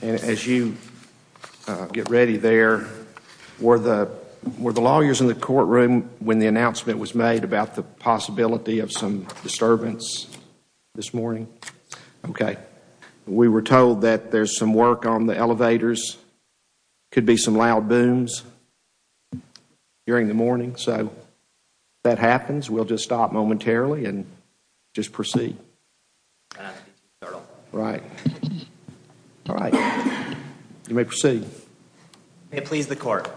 As you get ready there, were the lawyers in the courtroom when the announcement was made about the possibility of some disturbance this morning? We were told that there is some work on the elevators, could be some loud booms during the morning. So, if that happens, we'll just stop momentarily and just proceed. Right. All right. You may proceed. May it please the Court.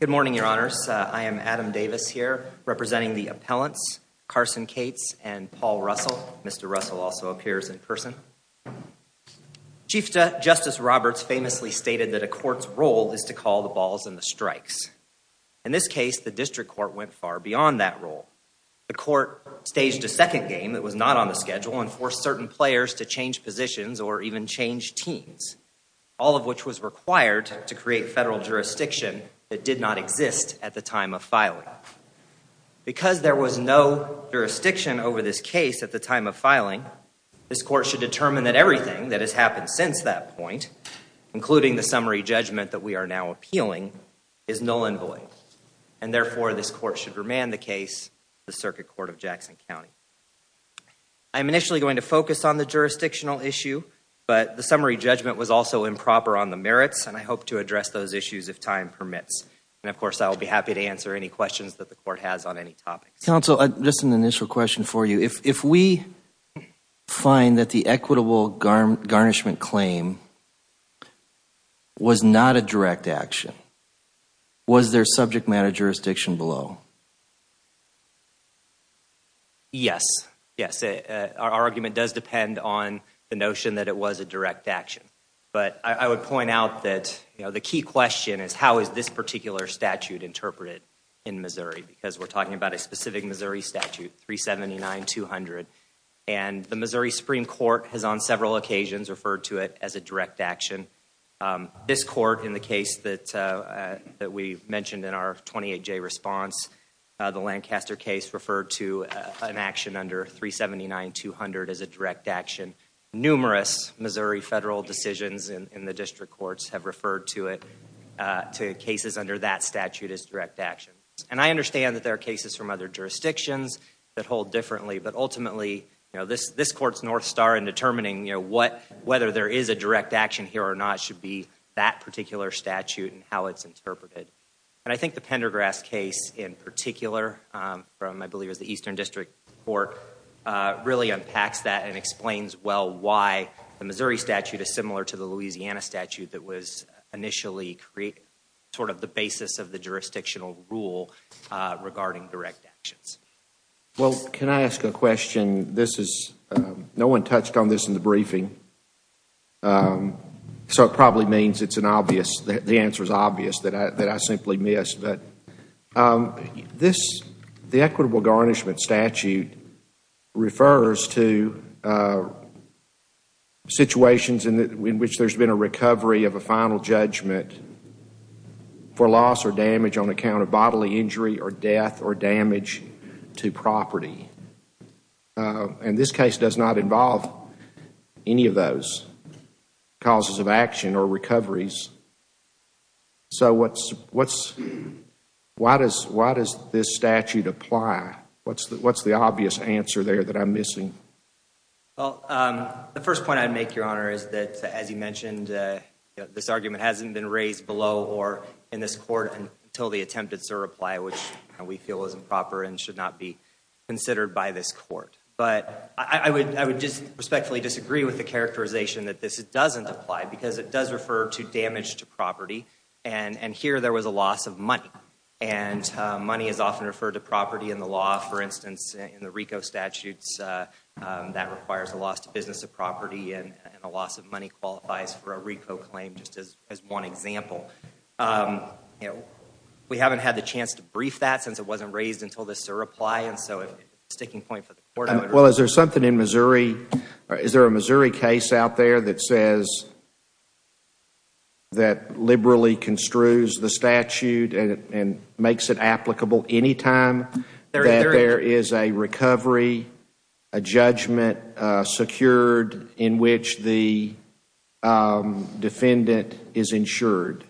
Good morning, Your Honors. I am Adam Davis here, representing the appellants, Carson Cates and Paul Russell. Mr. Russell also appears in person. Chief Justice Roberts famously stated that a court's role is to call the balls and the strikes. In this case, the district court went far beyond that role. The court staged a second game that was not on the schedule and forced certain players to change positions or even change teams, all of which was required to create federal jurisdiction that did not exist at the time of filing. Because there was no jurisdiction over this case at the time of filing, this court should determine that everything that has happened since that point, including the summary judgment that we are now appealing, is null and void. And therefore, this court should remand the case to the Circuit Court of Jackson County. I'm initially going to focus on the jurisdictional issue, but the summary judgment was also improper on the merits, and I hope to address those issues if time permits. And, of course, I will be happy to answer any questions that the Court has on any topics. Counsel, just an initial question for you. If we find that the equitable garnishment claim was not a direct action, was there subject matter jurisdiction below? Yes. Yes. Our argument does depend on the notion that it was a direct action. But I would point out that the key question is how is this particular statute interpreted in Missouri? Because we're talking about a specific Missouri statute, 379-200. And the Missouri Supreme Court has on several occasions referred to it as a direct action. This court, in the case that we mentioned in our 28-J response, the Lancaster case, referred to an action under 379-200 as a direct action. Numerous Missouri federal decisions in the district courts have referred to it, to cases under that statute, as direct action. And I understand that there are cases from other jurisdictions that hold differently, but ultimately this Court's north star in determining whether there is a direct action here or not should be that particular statute and how it's interpreted. And I think the Pendergrass case, in particular, from I believe it was the Eastern District Court, really unpacks that and explains well why the Missouri statute is similar to the basis of the jurisdictional rule regarding direct actions. Well, can I ask a question? This is, no one touched on this in the briefing. So it probably means it's an obvious, the answer is obvious, that I simply missed. This, the equitable garnishment statute, refers to situations in which there's been a recovery of a final judgment for loss or damage on account of bodily injury or death or damage to property. And this case does not involve any of those causes of action or recoveries. So what's, why does this statute apply? What's the obvious answer there that I'm missing? Well, the first point I'd make, Your Honor, is that, as you mentioned, this argument hasn't been raised below or in this Court until the attempted SIR reply, which we feel is improper and should not be considered by this Court. But I would just respectfully disagree with the characterization that this doesn't apply because it does refer to damage to property. And here there was a loss of money. And money is often referred to property in the law. For instance, in the RICO statutes, that requires a loss to business or property and a loss of money qualifies for a RICO claim, just as one example. We haven't had the chance to brief that since it wasn't raised until the SIR reply, and so it's a sticking point for the Court. Well, is there something in Missouri, is there a Missouri case out there that says, that and makes it applicable any time that there is a recovery, a judgment secured in which the defendant is insured?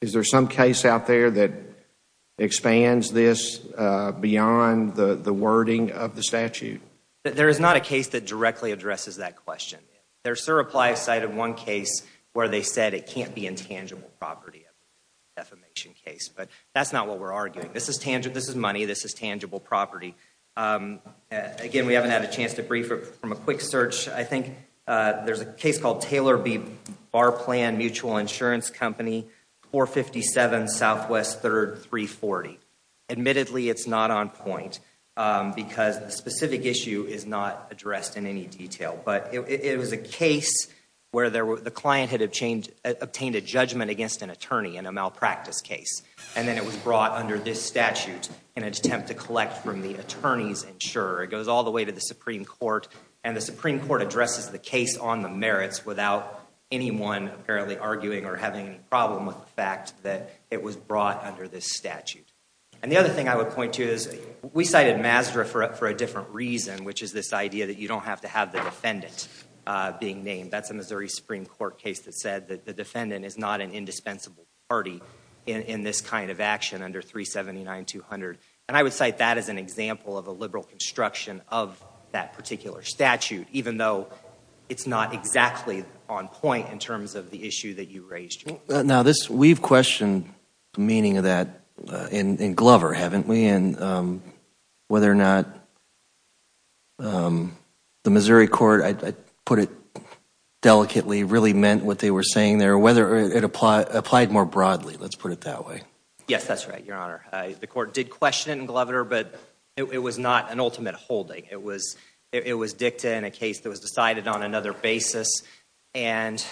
Is there some case out there that expands this beyond the wording of the statute? There is not a case that directly addresses that question. Their SIR reply cited one case where they said it can't be intangible property of defamation case. But that's not what we're arguing. This is tangible, this is money. This is tangible property. Again, we haven't had a chance to brief it from a quick search. I think there's a case called Taylor v. Barplan Mutual Insurance Company, 457 Southwest 3rd, 340. Admittedly, it's not on point because the specific issue is not addressed in any detail. But it was a case where the client had obtained a judgment against an attorney in a malpractice case. And then it was brought under this statute in an attempt to collect from the attorney's insurer. It goes all the way to the Supreme Court. And the Supreme Court addresses the case on the merits without anyone apparently arguing or having a problem with the fact that it was brought under this statute. And the other thing I would point to is, we cited Mazda for a different reason, which is this idea that you don't have to have the defendant being named. That's a Missouri Supreme Court case that said that the defendant is not an indispensable party in this kind of action under 379-200. And I would cite that as an example of a liberal construction of that particular statute, even though it's not exactly on point in terms of the issue that you raised. Now, we've questioned the meaning of that in Glover, haven't we? And whether or not the Missouri court, I'd put it delicately, really meant what they were saying there. Or whether it applied more broadly, let's put it that way. Yes, that's right, Your Honor. The court did question it in Glover, but it was not an ultimate holding. It was dicta in a case that was decided on another basis. And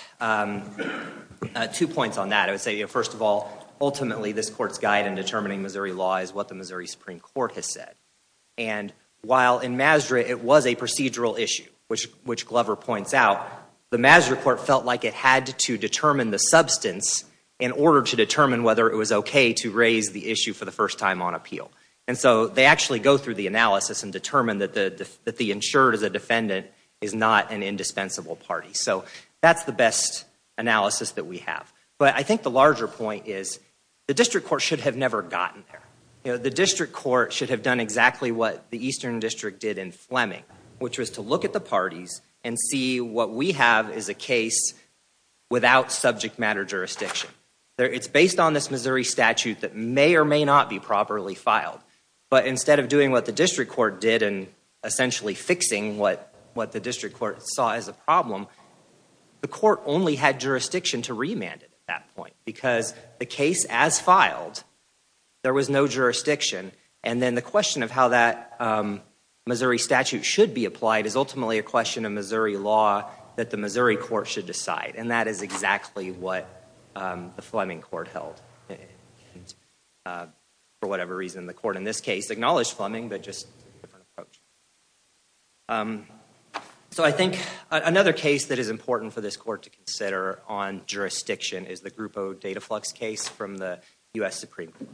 two points on that. I would say, first of all, ultimately this court's guide in determining Missouri law is what the Missouri Supreme Court has said. And while in Mazda it was a procedural issue, which Glover points out, the Mazda court felt like it had to determine the substance in order to determine whether it was okay to raise the issue for the first time on appeal. And so they actually go through the analysis and determine that the insured as a defendant is not an indispensable party. So that's the best analysis that we have. But I think the larger point is the district court should have never gotten there. The district court should have done exactly what the Eastern District did in Fleming, which was to look at the parties and see what we have is a case without subject matter jurisdiction. It's based on this Missouri statute that may or may not be properly filed. But instead of doing what the district court did and essentially fixing what the district court saw as a problem, the court only had jurisdiction to remand it at that point. Because the case as filed, there was no jurisdiction. And then the question of how that Missouri statute should be applied is ultimately a question of Missouri law that the Missouri court should decide. And that is exactly what the Fleming court held. For whatever reason, the court in this case acknowledged Fleming, but just took a different approach. So I think another case that is important for this court to consider on jurisdiction is the Grupo Dataflux case from the U.S. Supreme Court.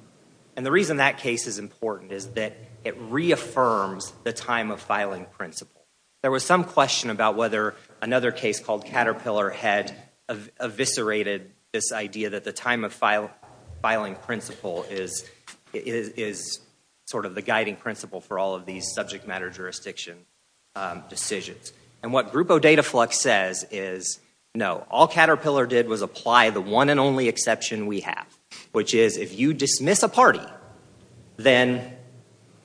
And the reason that case is important is that it reaffirms the time of filing principle. There was some question about whether another case called Caterpillar had eviscerated this idea that the time of filing principle is sort of the guiding principle for all of these subject matter jurisdiction decisions. And what Grupo Dataflux says is, no, all Caterpillar did was apply the one and only exception we had. And if you miss a party, then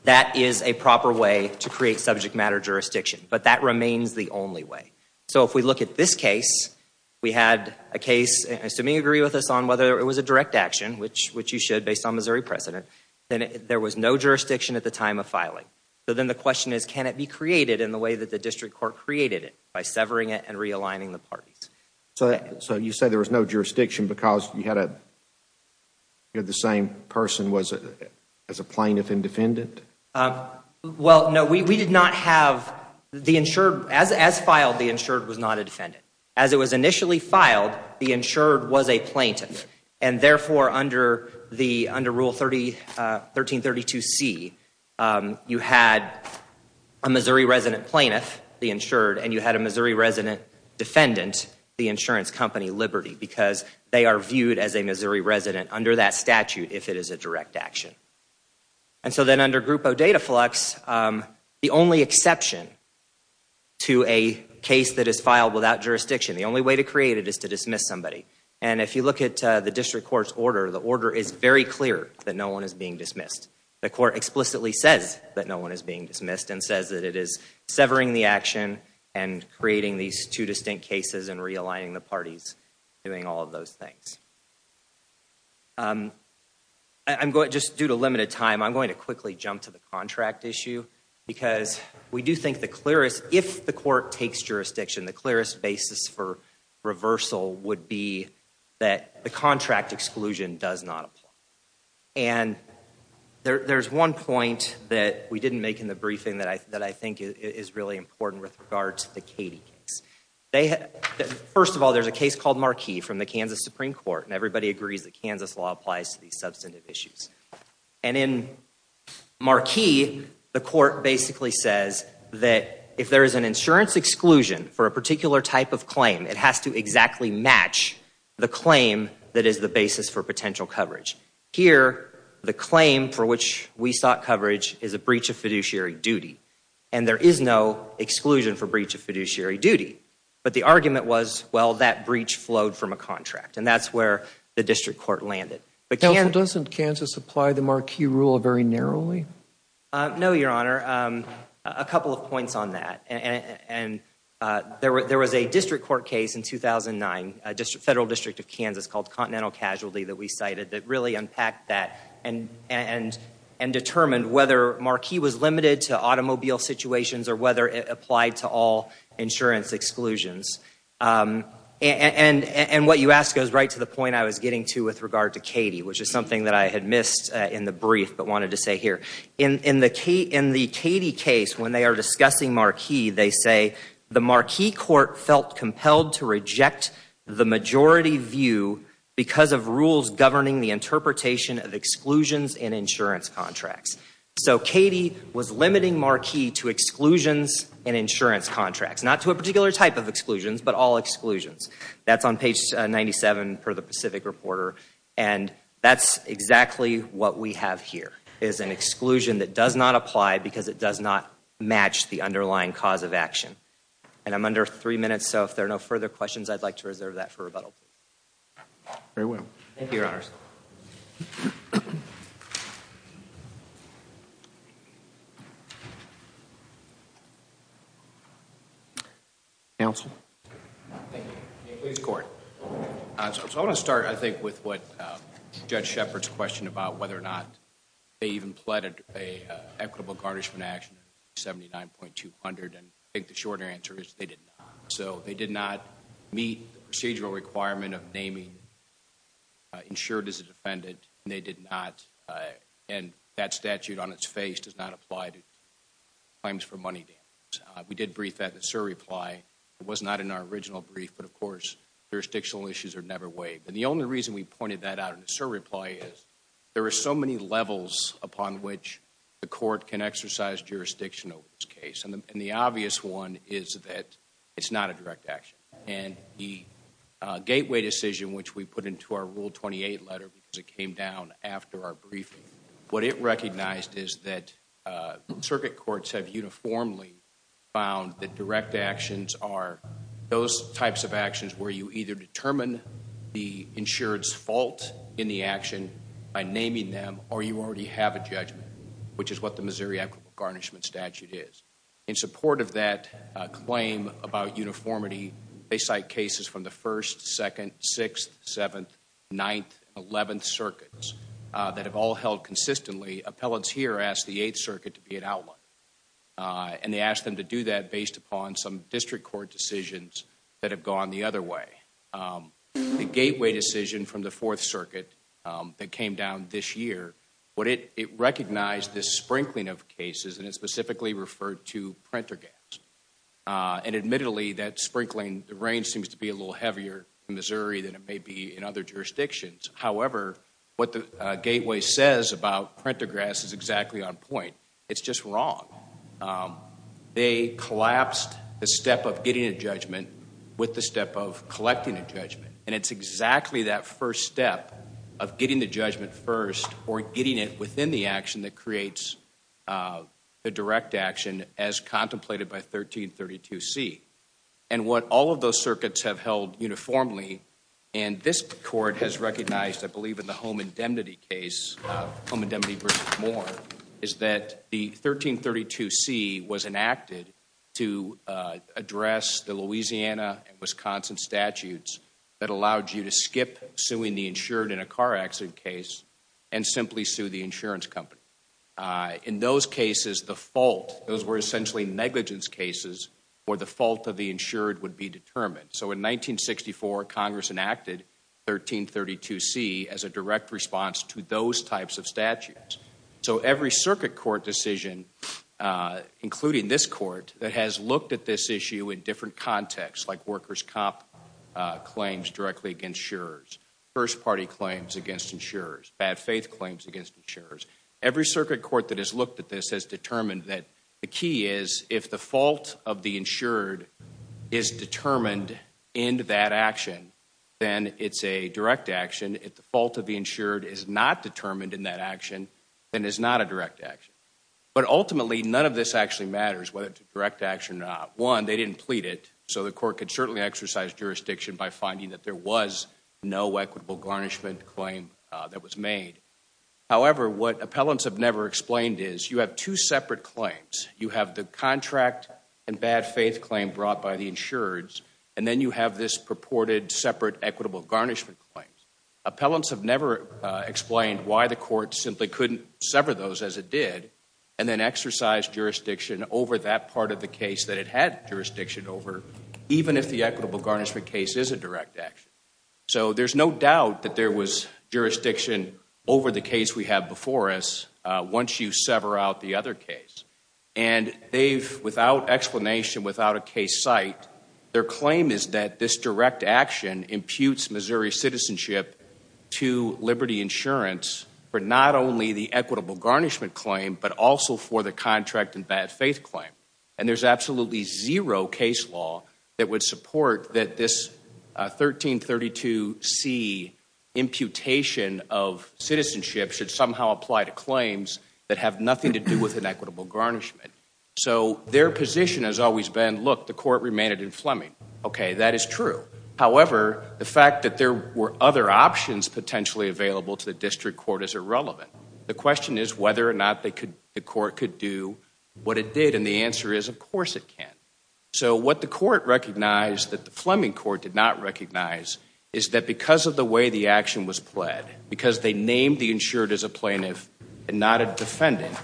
that is a proper way to create subject matter jurisdiction. But that remains the only way. So if we look at this case, we had a case, and I assume you agree with us on whether it was a direct action, which you should based on Missouri precedent, then there was no jurisdiction at the time of filing. So then the question is, can it be created in the way that the district court created it by severing it and realigning the parties? So you say there was no jurisdiction because you had the same person as a plaintiff and defendant? Well, no, we did not have the insured, as filed, the insured was not a defendant. As it was initially filed, the insured was a plaintiff. And therefore, under Rule 1332C, you had a Missouri resident plaintiff, the insured, and you had a Missouri resident defendant, the insurance company Liberty, because they are viewed as a Missouri resident under that statute if it is a direct action. And so then under Group O Data Flux, the only exception to a case that is filed without jurisdiction, the only way to create it is to dismiss somebody. And if you look at the district court's order, the order is very clear that no one is being dismissed. The court explicitly says that no one is being dismissed and says that it is severing the and creating these two distinct cases and realigning the parties, doing all of those things. I'm going to just due to limited time, I'm going to quickly jump to the contract issue because we do think the clearest, if the court takes jurisdiction, the clearest basis for reversal would be that the contract exclusion does not apply. And there's one point that we didn't make in the briefing that I think is really important with regard to the Katie case. First of all, there's a case called Marquis from the Kansas Supreme Court, and everybody agrees that Kansas law applies to these substantive issues. And in Marquis, the court basically says that if there is an insurance exclusion for a particular type of claim, it has to exactly match the claim that is the basis for potential coverage. Here, the claim for which we sought coverage is a breach of fiduciary duty, and there is no exclusion for breach of fiduciary duty. But the argument was, well, that breach flowed from a contract, and that's where the district court landed. Counsel, doesn't Kansas apply the Marquis rule very narrowly? No, Your Honor. A couple of points on that. And there was a district court case in 2009, a federal district of Kansas called Continental Casualty that we cited that really unpacked that and determined whether Marquis was limited to automobile situations or whether it applied to all insurance exclusions. And what you ask goes right to the point I was getting to with regard to Katie, which is something that I had missed in the brief but wanted to say here. In the Katie case, when they are discussing Marquis, they say, the Marquis court felt compelled to reject the majority view because of rules governing the interpretation of exclusions in insurance contracts. So Katie was limiting Marquis to exclusions in insurance contracts. Not to a particular type of exclusions, but all exclusions. That's on page 97 per the Pacific Reporter. And that's exactly what we have here, is an exclusion that does not apply because it does not match the underlying cause of action. And I'm under three minutes, so if there are no further questions, I'd like to reserve Very well. Thank you, Your Honors. Counsel? Thank you. Please, Court. So I want to start, I think, with what Judge Shepard's question about whether or not they even pleaded an equitable garnishment action, 79.200, and I think the shorter answer is they did not. So they did not meet the procedural requirement of naming insured as a defendant, and they did not, and that statute on its face does not apply to claims for money damages. We did brief that in the SIR reply, it was not in our original brief, but of course jurisdictional issues are never waived. And the only reason we pointed that out in the SIR reply is there are so many levels upon which the court can exercise jurisdiction over this case, and the obvious one is that it's not a direct action. And the gateway decision, which we put into our Rule 28 letter, because it came down after our briefing, what it recognized is that circuit courts have uniformly found that direct actions are those types of actions where you either determine the insured's fault in the action by naming them, or you already have a judgment, which is what the Missouri equitable garnishment statute is. In support of that claim about uniformity, they cite cases from the 1st, 2nd, 6th, 7th, 9th, and 11th circuits that have all held consistently. Appellants here ask the 8th circuit to be an outline, and they ask them to do that based upon some district court decisions that have gone the other way. The gateway decision from the 4th circuit that came down this year, it recognized this as one of the two printer gaps, and admittedly, that sprinkling, the rain seems to be a little heavier in Missouri than it may be in other jurisdictions, however, what the gateway says about printer grass is exactly on point. It's just wrong. They collapsed the step of getting a judgment with the step of collecting a judgment, and it's exactly that first step of getting the judgment first or getting it within the action that creates the direct action as contemplated by 1332C. And what all of those circuits have held uniformly, and this court has recognized, I believe in the home indemnity case, home indemnity versus Moore, is that the 1332C was enacted to address the Louisiana and Wisconsin statutes that allowed you to skip suing the insured in a In those cases, the fault, those were essentially negligence cases where the fault of the insured would be determined. So in 1964, Congress enacted 1332C as a direct response to those types of statutes. So every circuit court decision, including this court, that has looked at this issue in different contexts, like workers' comp claims directly against insurers, first party claims against insurers, bad faith claims against insurers. Every circuit court that has looked at this has determined that the key is if the fault of the insured is determined in that action, then it's a direct action. If the fault of the insured is not determined in that action, then it's not a direct action. But ultimately, none of this actually matters whether it's a direct action or not. One, they didn't plead it, so the court could certainly exercise jurisdiction by finding that there was no equitable garnishment claim that was made. However, what appellants have never explained is you have two separate claims. You have the contract and bad faith claim brought by the insurers, and then you have this purported separate equitable garnishment claim. Appellants have never explained why the court simply couldn't sever those as it did, and then exercise jurisdiction over that part of the case that it had jurisdiction over, even if the equitable garnishment case is a direct action. So there's no doubt that there was jurisdiction over the case we have before us once you sever out the other case. And they've, without explanation, without a case site, their claim is that this direct action imputes Missouri citizenship to Liberty Insurance for not only the equitable garnishment claim, but also for the contract and bad faith claim. And there's absolutely zero case law that would support that this 1332C imputation of citizenship should somehow apply to claims that have nothing to do with an equitable garnishment. So their position has always been, look, the court remained in Fleming. Okay, that is true. However, the fact that there were other options potentially available to the district court is irrelevant. The question is whether or not the court could do what it did, and the answer is, of course it can. So what the court recognized that the Fleming court did not recognize is that because of the way the action was pled, because they named the insured as a plaintiff and not a defendant,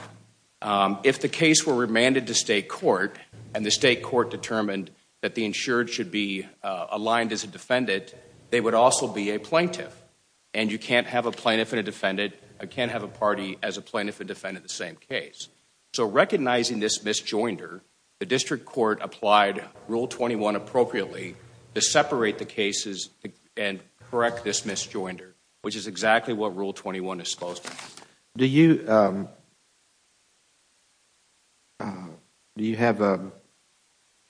if the case were remanded to state court and the state court determined that the insured should be aligned as a defendant, they would also be a plaintiff. And you can't have a plaintiff and a defendant, you can't have a party as a plaintiff and a defendant in the same case. So recognizing this misjoinder, the district court applied Rule 21 appropriately to separate the cases and correct this misjoinder, which is exactly what Rule 21 is supposed to do. Do you have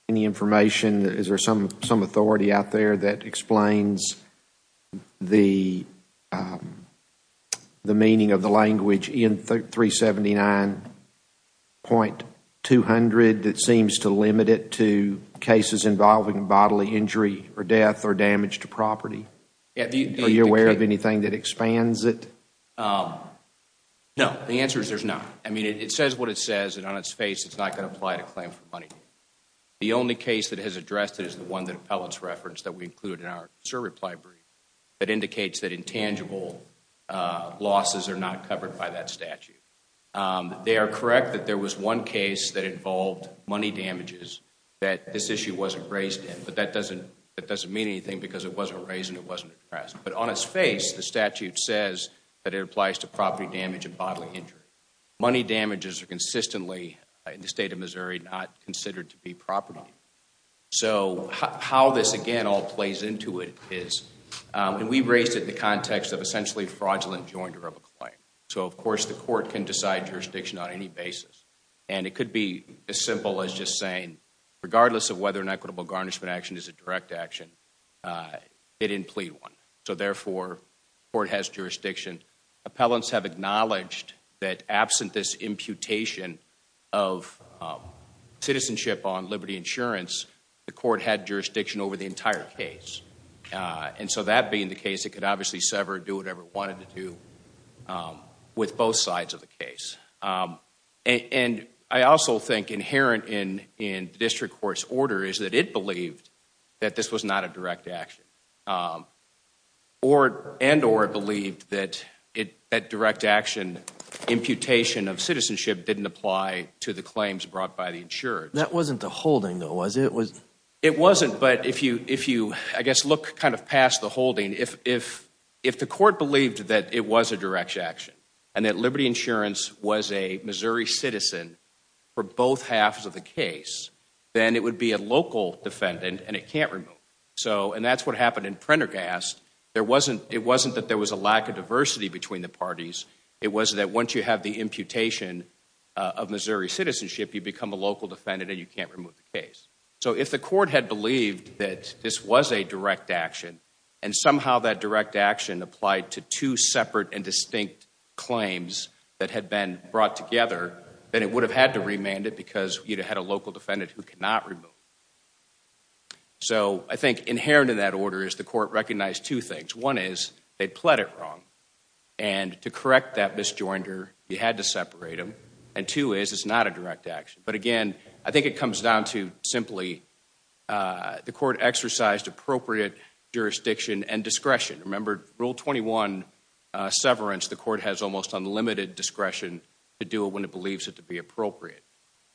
any information? Is there some authority out there that explains the meaning of the language in 379.200 that seems to limit it to cases involving bodily injury or death or damage to property? Are you aware of anything that expands it? No, the answer is there's none. It says what it says, and on its face it's not going to apply to a claim for money. The only case that has addressed it is the one that appellants referenced that we included in our SIR reply brief that indicates that intangible losses are not covered by that statute. They are correct that there was one case that involved money damages that this issue wasn't raised in, but that doesn't mean anything because it wasn't raised and it wasn't addressed. But on its face, the statute says that it applies to property damage and bodily injury. Money damages are consistently, in the state of Missouri, not considered to be property. So how this, again, all plays into it is, and we raised it in the context of essentially fraudulent joinder of a claim. So of course the court can decide jurisdiction on any basis. And it could be as simple as just saying regardless of whether an equitable garnishment action is a direct action, it didn't plead one. So therefore, the court has jurisdiction. Appellants have acknowledged that absent this imputation of citizenship on Liberty Insurance, the court had jurisdiction over the entire case. And so that being the case, it could obviously sever, do whatever it wanted to do with both sides of the case. And I also think inherent in the district court's order is that it believed that this was not a direct action. And or it believed that direct action imputation of citizenship didn't apply to the claims brought by the insurance. That wasn't the holding, though, was it? It wasn't. But if you, I guess, look kind of past the holding, if the court believed that it was a direct action and that Liberty Insurance was a Missouri citizen for both halves of the case, then it would be a local defendant and it can't remove it. So and that's what happened in Prendergast. There wasn't, it wasn't that there was a lack of diversity between the parties. It was that once you have the imputation of Missouri citizenship, you become a local defendant and you can't remove the case. So if the court had believed that this was a direct action and somehow that direct action applied to two separate and distinct claims that had been brought together, then it would have had to remand it because you'd have had a local defendant who could not remove it. So I think inherent in that order is the court recognized two things. One is they pled it wrong. And to correct that misjoinder, you had to separate them. And two is it's not a direct action. But again, I think it comes down to simply the court exercised appropriate jurisdiction and discretion. Remember Rule 21, severance, the court has almost unlimited discretion to do it when it believes it to be appropriate.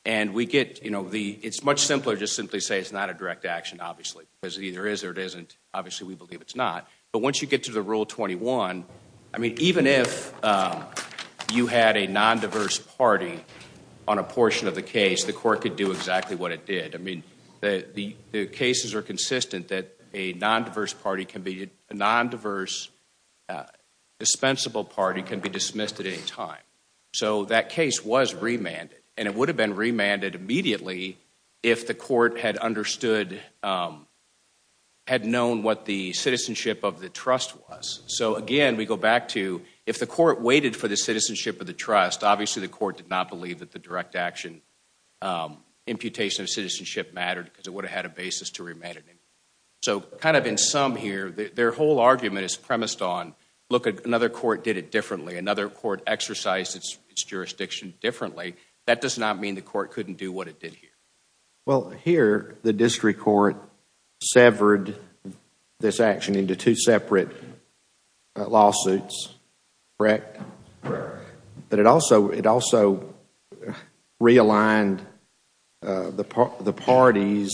And we get, you know, it's much simpler to simply say it's not a direct action, obviously, because it either is or it isn't. Obviously we believe it's not. But once you get to the Rule 21, I mean, even if you had a non-diverse party on a portion of the case, the court could do exactly what it did. I mean, the cases are consistent that a non-diverse dispensable party can be dismissed at any time. So that case was remanded. And it would have been remanded immediately if the court had understood, had known what the citizenship of the trust was. So again, we go back to if the court waited for the citizenship of the trust, obviously the court did not believe that the direct action imputation of citizenship mattered because it would have had a basis to remand it. So kind of in sum here, their whole argument is premised on, look, another court did it differently. Another court exercised its jurisdiction differently. That does not mean the court couldn't do what it did here. Well here, the district court severed this action into two separate lawsuits, correct? Correct. But it also realigned the parties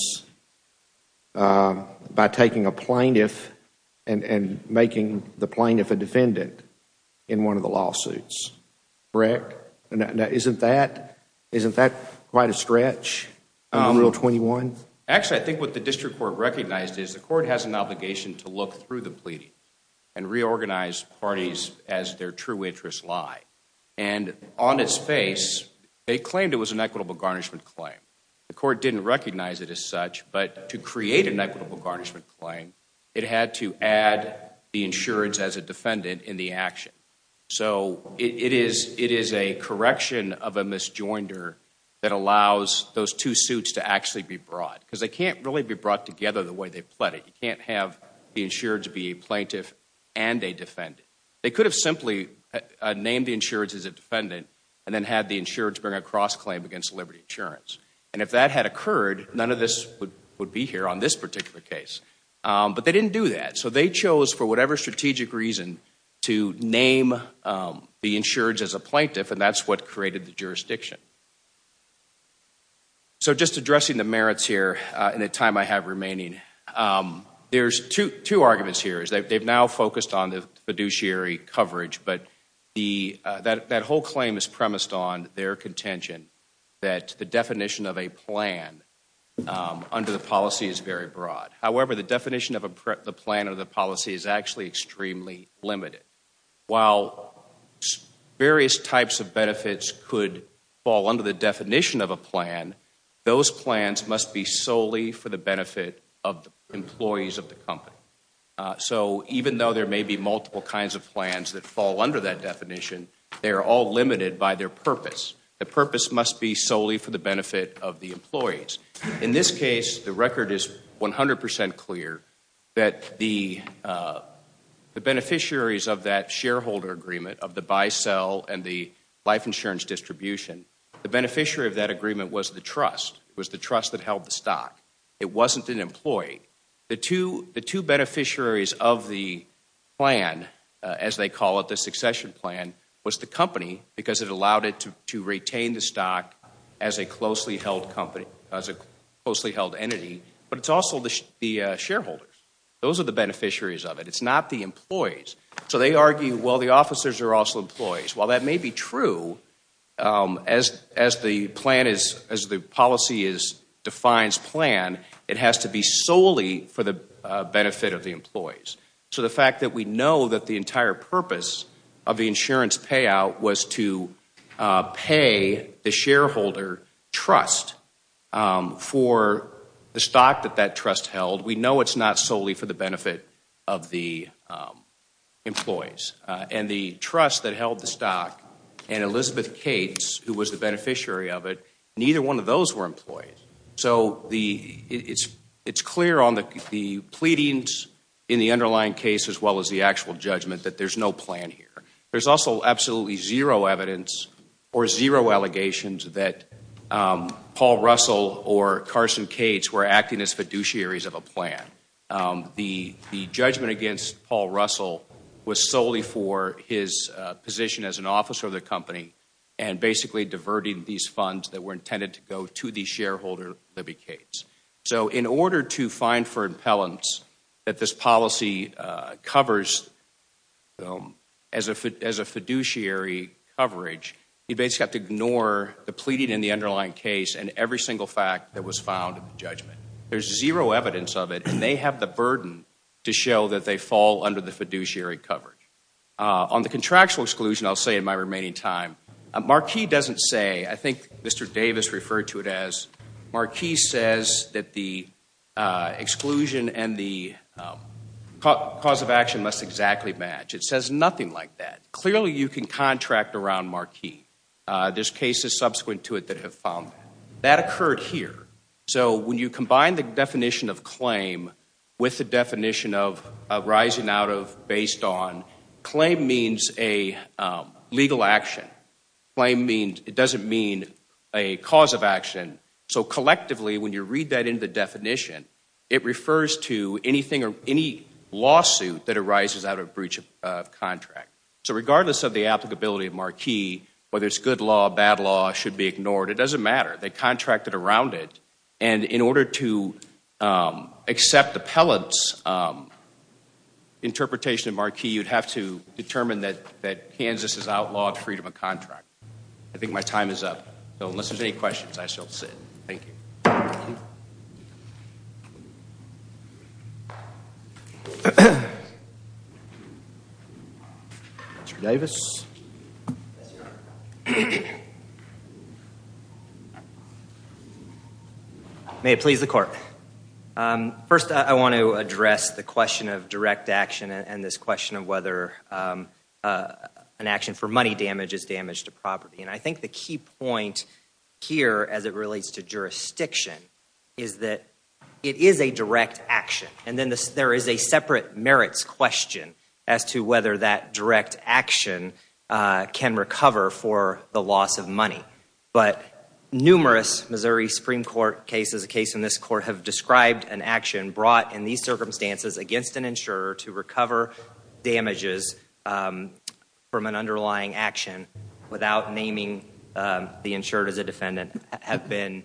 by taking a plaintiff and making the plaintiff a defendant in one of the lawsuits, correct? Now isn't that quite a stretch in Rule 21? Actually, I think what the district court recognized is the court has an obligation to look through the pleading and reorganize parties as their true interests lie. And on its face, they claimed it was an equitable garnishment claim. The court didn't recognize it as such, but to create an equitable garnishment claim, it had to add the insurance as a defendant in the action. So it is a correction of a misjoinder that allows those two suits to actually be brought because they can't really be brought together the way they pleaded. You can't have the insureds be a plaintiff and a defendant. They could have simply named the insureds as a defendant and then had the insureds bring a cross-claim against Liberty Insurance. And if that had occurred, none of this would be here on this particular case. But they didn't do that. So they chose, for whatever strategic reason, to name the insureds as a plaintiff, and that's what created the jurisdiction. So just addressing the merits here in the time I have remaining, there's two arguments here. They've now focused on the fiduciary coverage, but that whole claim is premised on their contention that the definition of a plan under the policy is very broad. However, the definition of a plan under the policy is actually extremely limited. While various types of benefits could fall under the definition of a plan, those plans must be solely for the benefit of the employees of the company. So even though there may be multiple kinds of plans that fall under that definition, they are all limited by their purpose. The purpose must be solely for the benefit of the employees. In this case, the record is 100 percent clear that the beneficiaries of that shareholder agreement of the buy-sell and the life insurance distribution, the beneficiary of that agreement was the trust. It was the trust that held the stock. It wasn't an employee. The two beneficiaries of the plan, as they call it, the succession plan, was the company because it allowed it to retain the stock as a closely held entity, but it's also the shareholders. Those are the beneficiaries of it. It's not the employees. So they argue, well, the officers are also employees. While that may be true, as the policy defines plan, it has to be solely for the benefit of the employees. So the fact that we know that the entire purpose of the insurance payout was to pay the shareholder trust for the stock that that trust held, we know it's not solely for the benefit of the employees. And the trust that held the stock and Elizabeth Cates, who was the beneficiary of it, neither one of those were employees. So it's clear on the pleadings in the underlying case as well as the actual judgment that there's no plan here. There's also absolutely zero evidence or zero allegations that Paul Russell or Carson Cates were acting as fiduciaries of a plan. The judgment against Paul Russell was solely for his position as an officer of the company and basically diverting these funds that were intended to go to the shareholder, Libby Cates. So in order to find for impellants that this policy covers as a fiduciary coverage, you basically have to ignore the pleading in the underlying case and every single fact that was found in the judgment. There's zero evidence of it, and they have the burden to show that they fall under the fiduciary coverage. On the contractual exclusion, I'll say in my remaining time, Marquis doesn't say, I think Mr. Davis referred to it as, Marquis says that the exclusion and the cause of action must exactly match. It says nothing like that. Clearly you can contract around Marquis. There's cases subsequent to it that have found that. That occurred here. So when you combine the definition of claim with the definition of arising out of, based on, claim means a legal action. Claim means, it doesn't mean a cause of action. So collectively, when you read that into the definition, it refers to anything or any lawsuit that arises out of breach of contract. So regardless of the applicability of Marquis, whether it's good law, bad law, it should be ignored. It doesn't matter. They contracted around it, and in order to accept Appellant's interpretation of Marquis, you'd have to determine that Kansas is outlawed freedom of contract. I think my time is up. So unless there's any questions, I shall sit. Thank you. Thank you. Mr. Davis. May it please the court. First I want to address the question of direct action and this question of whether an action for money damage is damage to property. And I think the key point here, as it relates to jurisdiction, is that it is a direct action. And then there is a separate merits question as to whether that direct action can recover for the loss of money. But numerous Missouri Supreme Court cases, a case in this court, have described an action brought in these circumstances against an insurer to recover damages from an underlying action without naming the insured as a defendant have been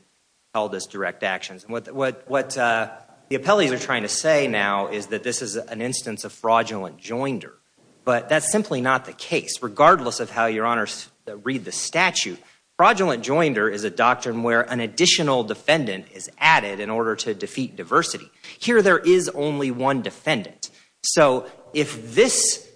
held as direct actions. What the appellees are trying to say now is that this is an instance of fraudulent joinder. But that's simply not the case, regardless of how your honors read the statute. Fraudulent joinder is a doctrine where an additional defendant is added in order to defeat diversity. Here there is only one defendant. So if this,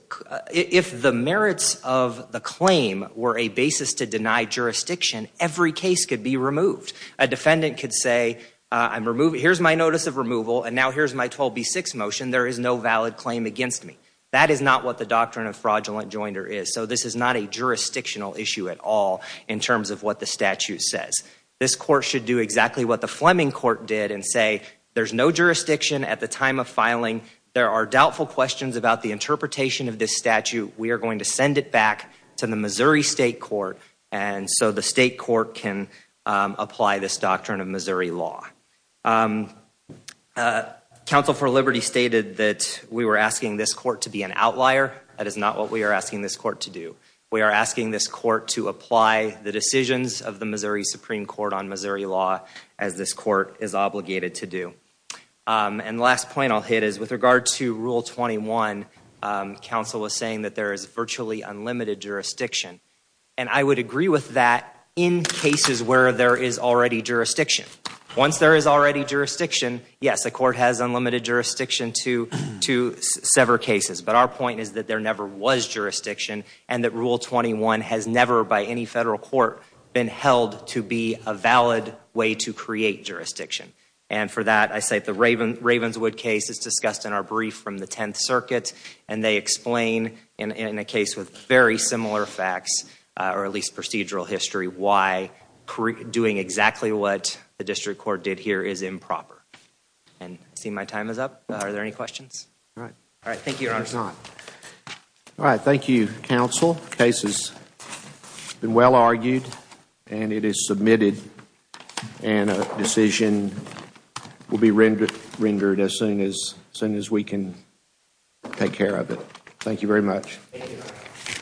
if the merits of the claim were a basis to deny jurisdiction, every case could be removed. A defendant could say, here's my notice of removal, and now here's my 12B6 motion. There is no valid claim against me. That is not what the doctrine of fraudulent joinder is. So this is not a jurisdictional issue at all in terms of what the statute says. This court should do exactly what the Fleming court did and say, there's no jurisdiction at the time of filing. There are doubtful questions about the interpretation of this statute. We are going to send it back to the Missouri State Court. And so the state court can apply this doctrine of Missouri law. Counsel for Liberty stated that we were asking this court to be an outlier. That is not what we are asking this court to do. We are asking this court to apply the decisions of the Missouri Supreme Court on Missouri law as this court is obligated to do. And the last point I'll hit is with regard to Rule 21, counsel was saying that there is virtually unlimited jurisdiction. And I would agree with that in cases where there is already jurisdiction. Once there is already jurisdiction, yes, the court has unlimited jurisdiction to sever cases. But our point is that there never was jurisdiction and that Rule 21 has never by any federal court been held to be a valid way to create jurisdiction. And for that, I cite the Ravenswood case that's discussed in our brief from the 10th Circuit. And they explain in a case with very similar facts or at least procedural history why doing exactly what the district court did here is improper. And I see my time is up. Are there any questions? All right. All right. Thank you, Your Honor. All right. Thank you, counsel. The case has been well argued and it is submitted and a decision will be rendered as soon as we can take care of it. Thank you very much.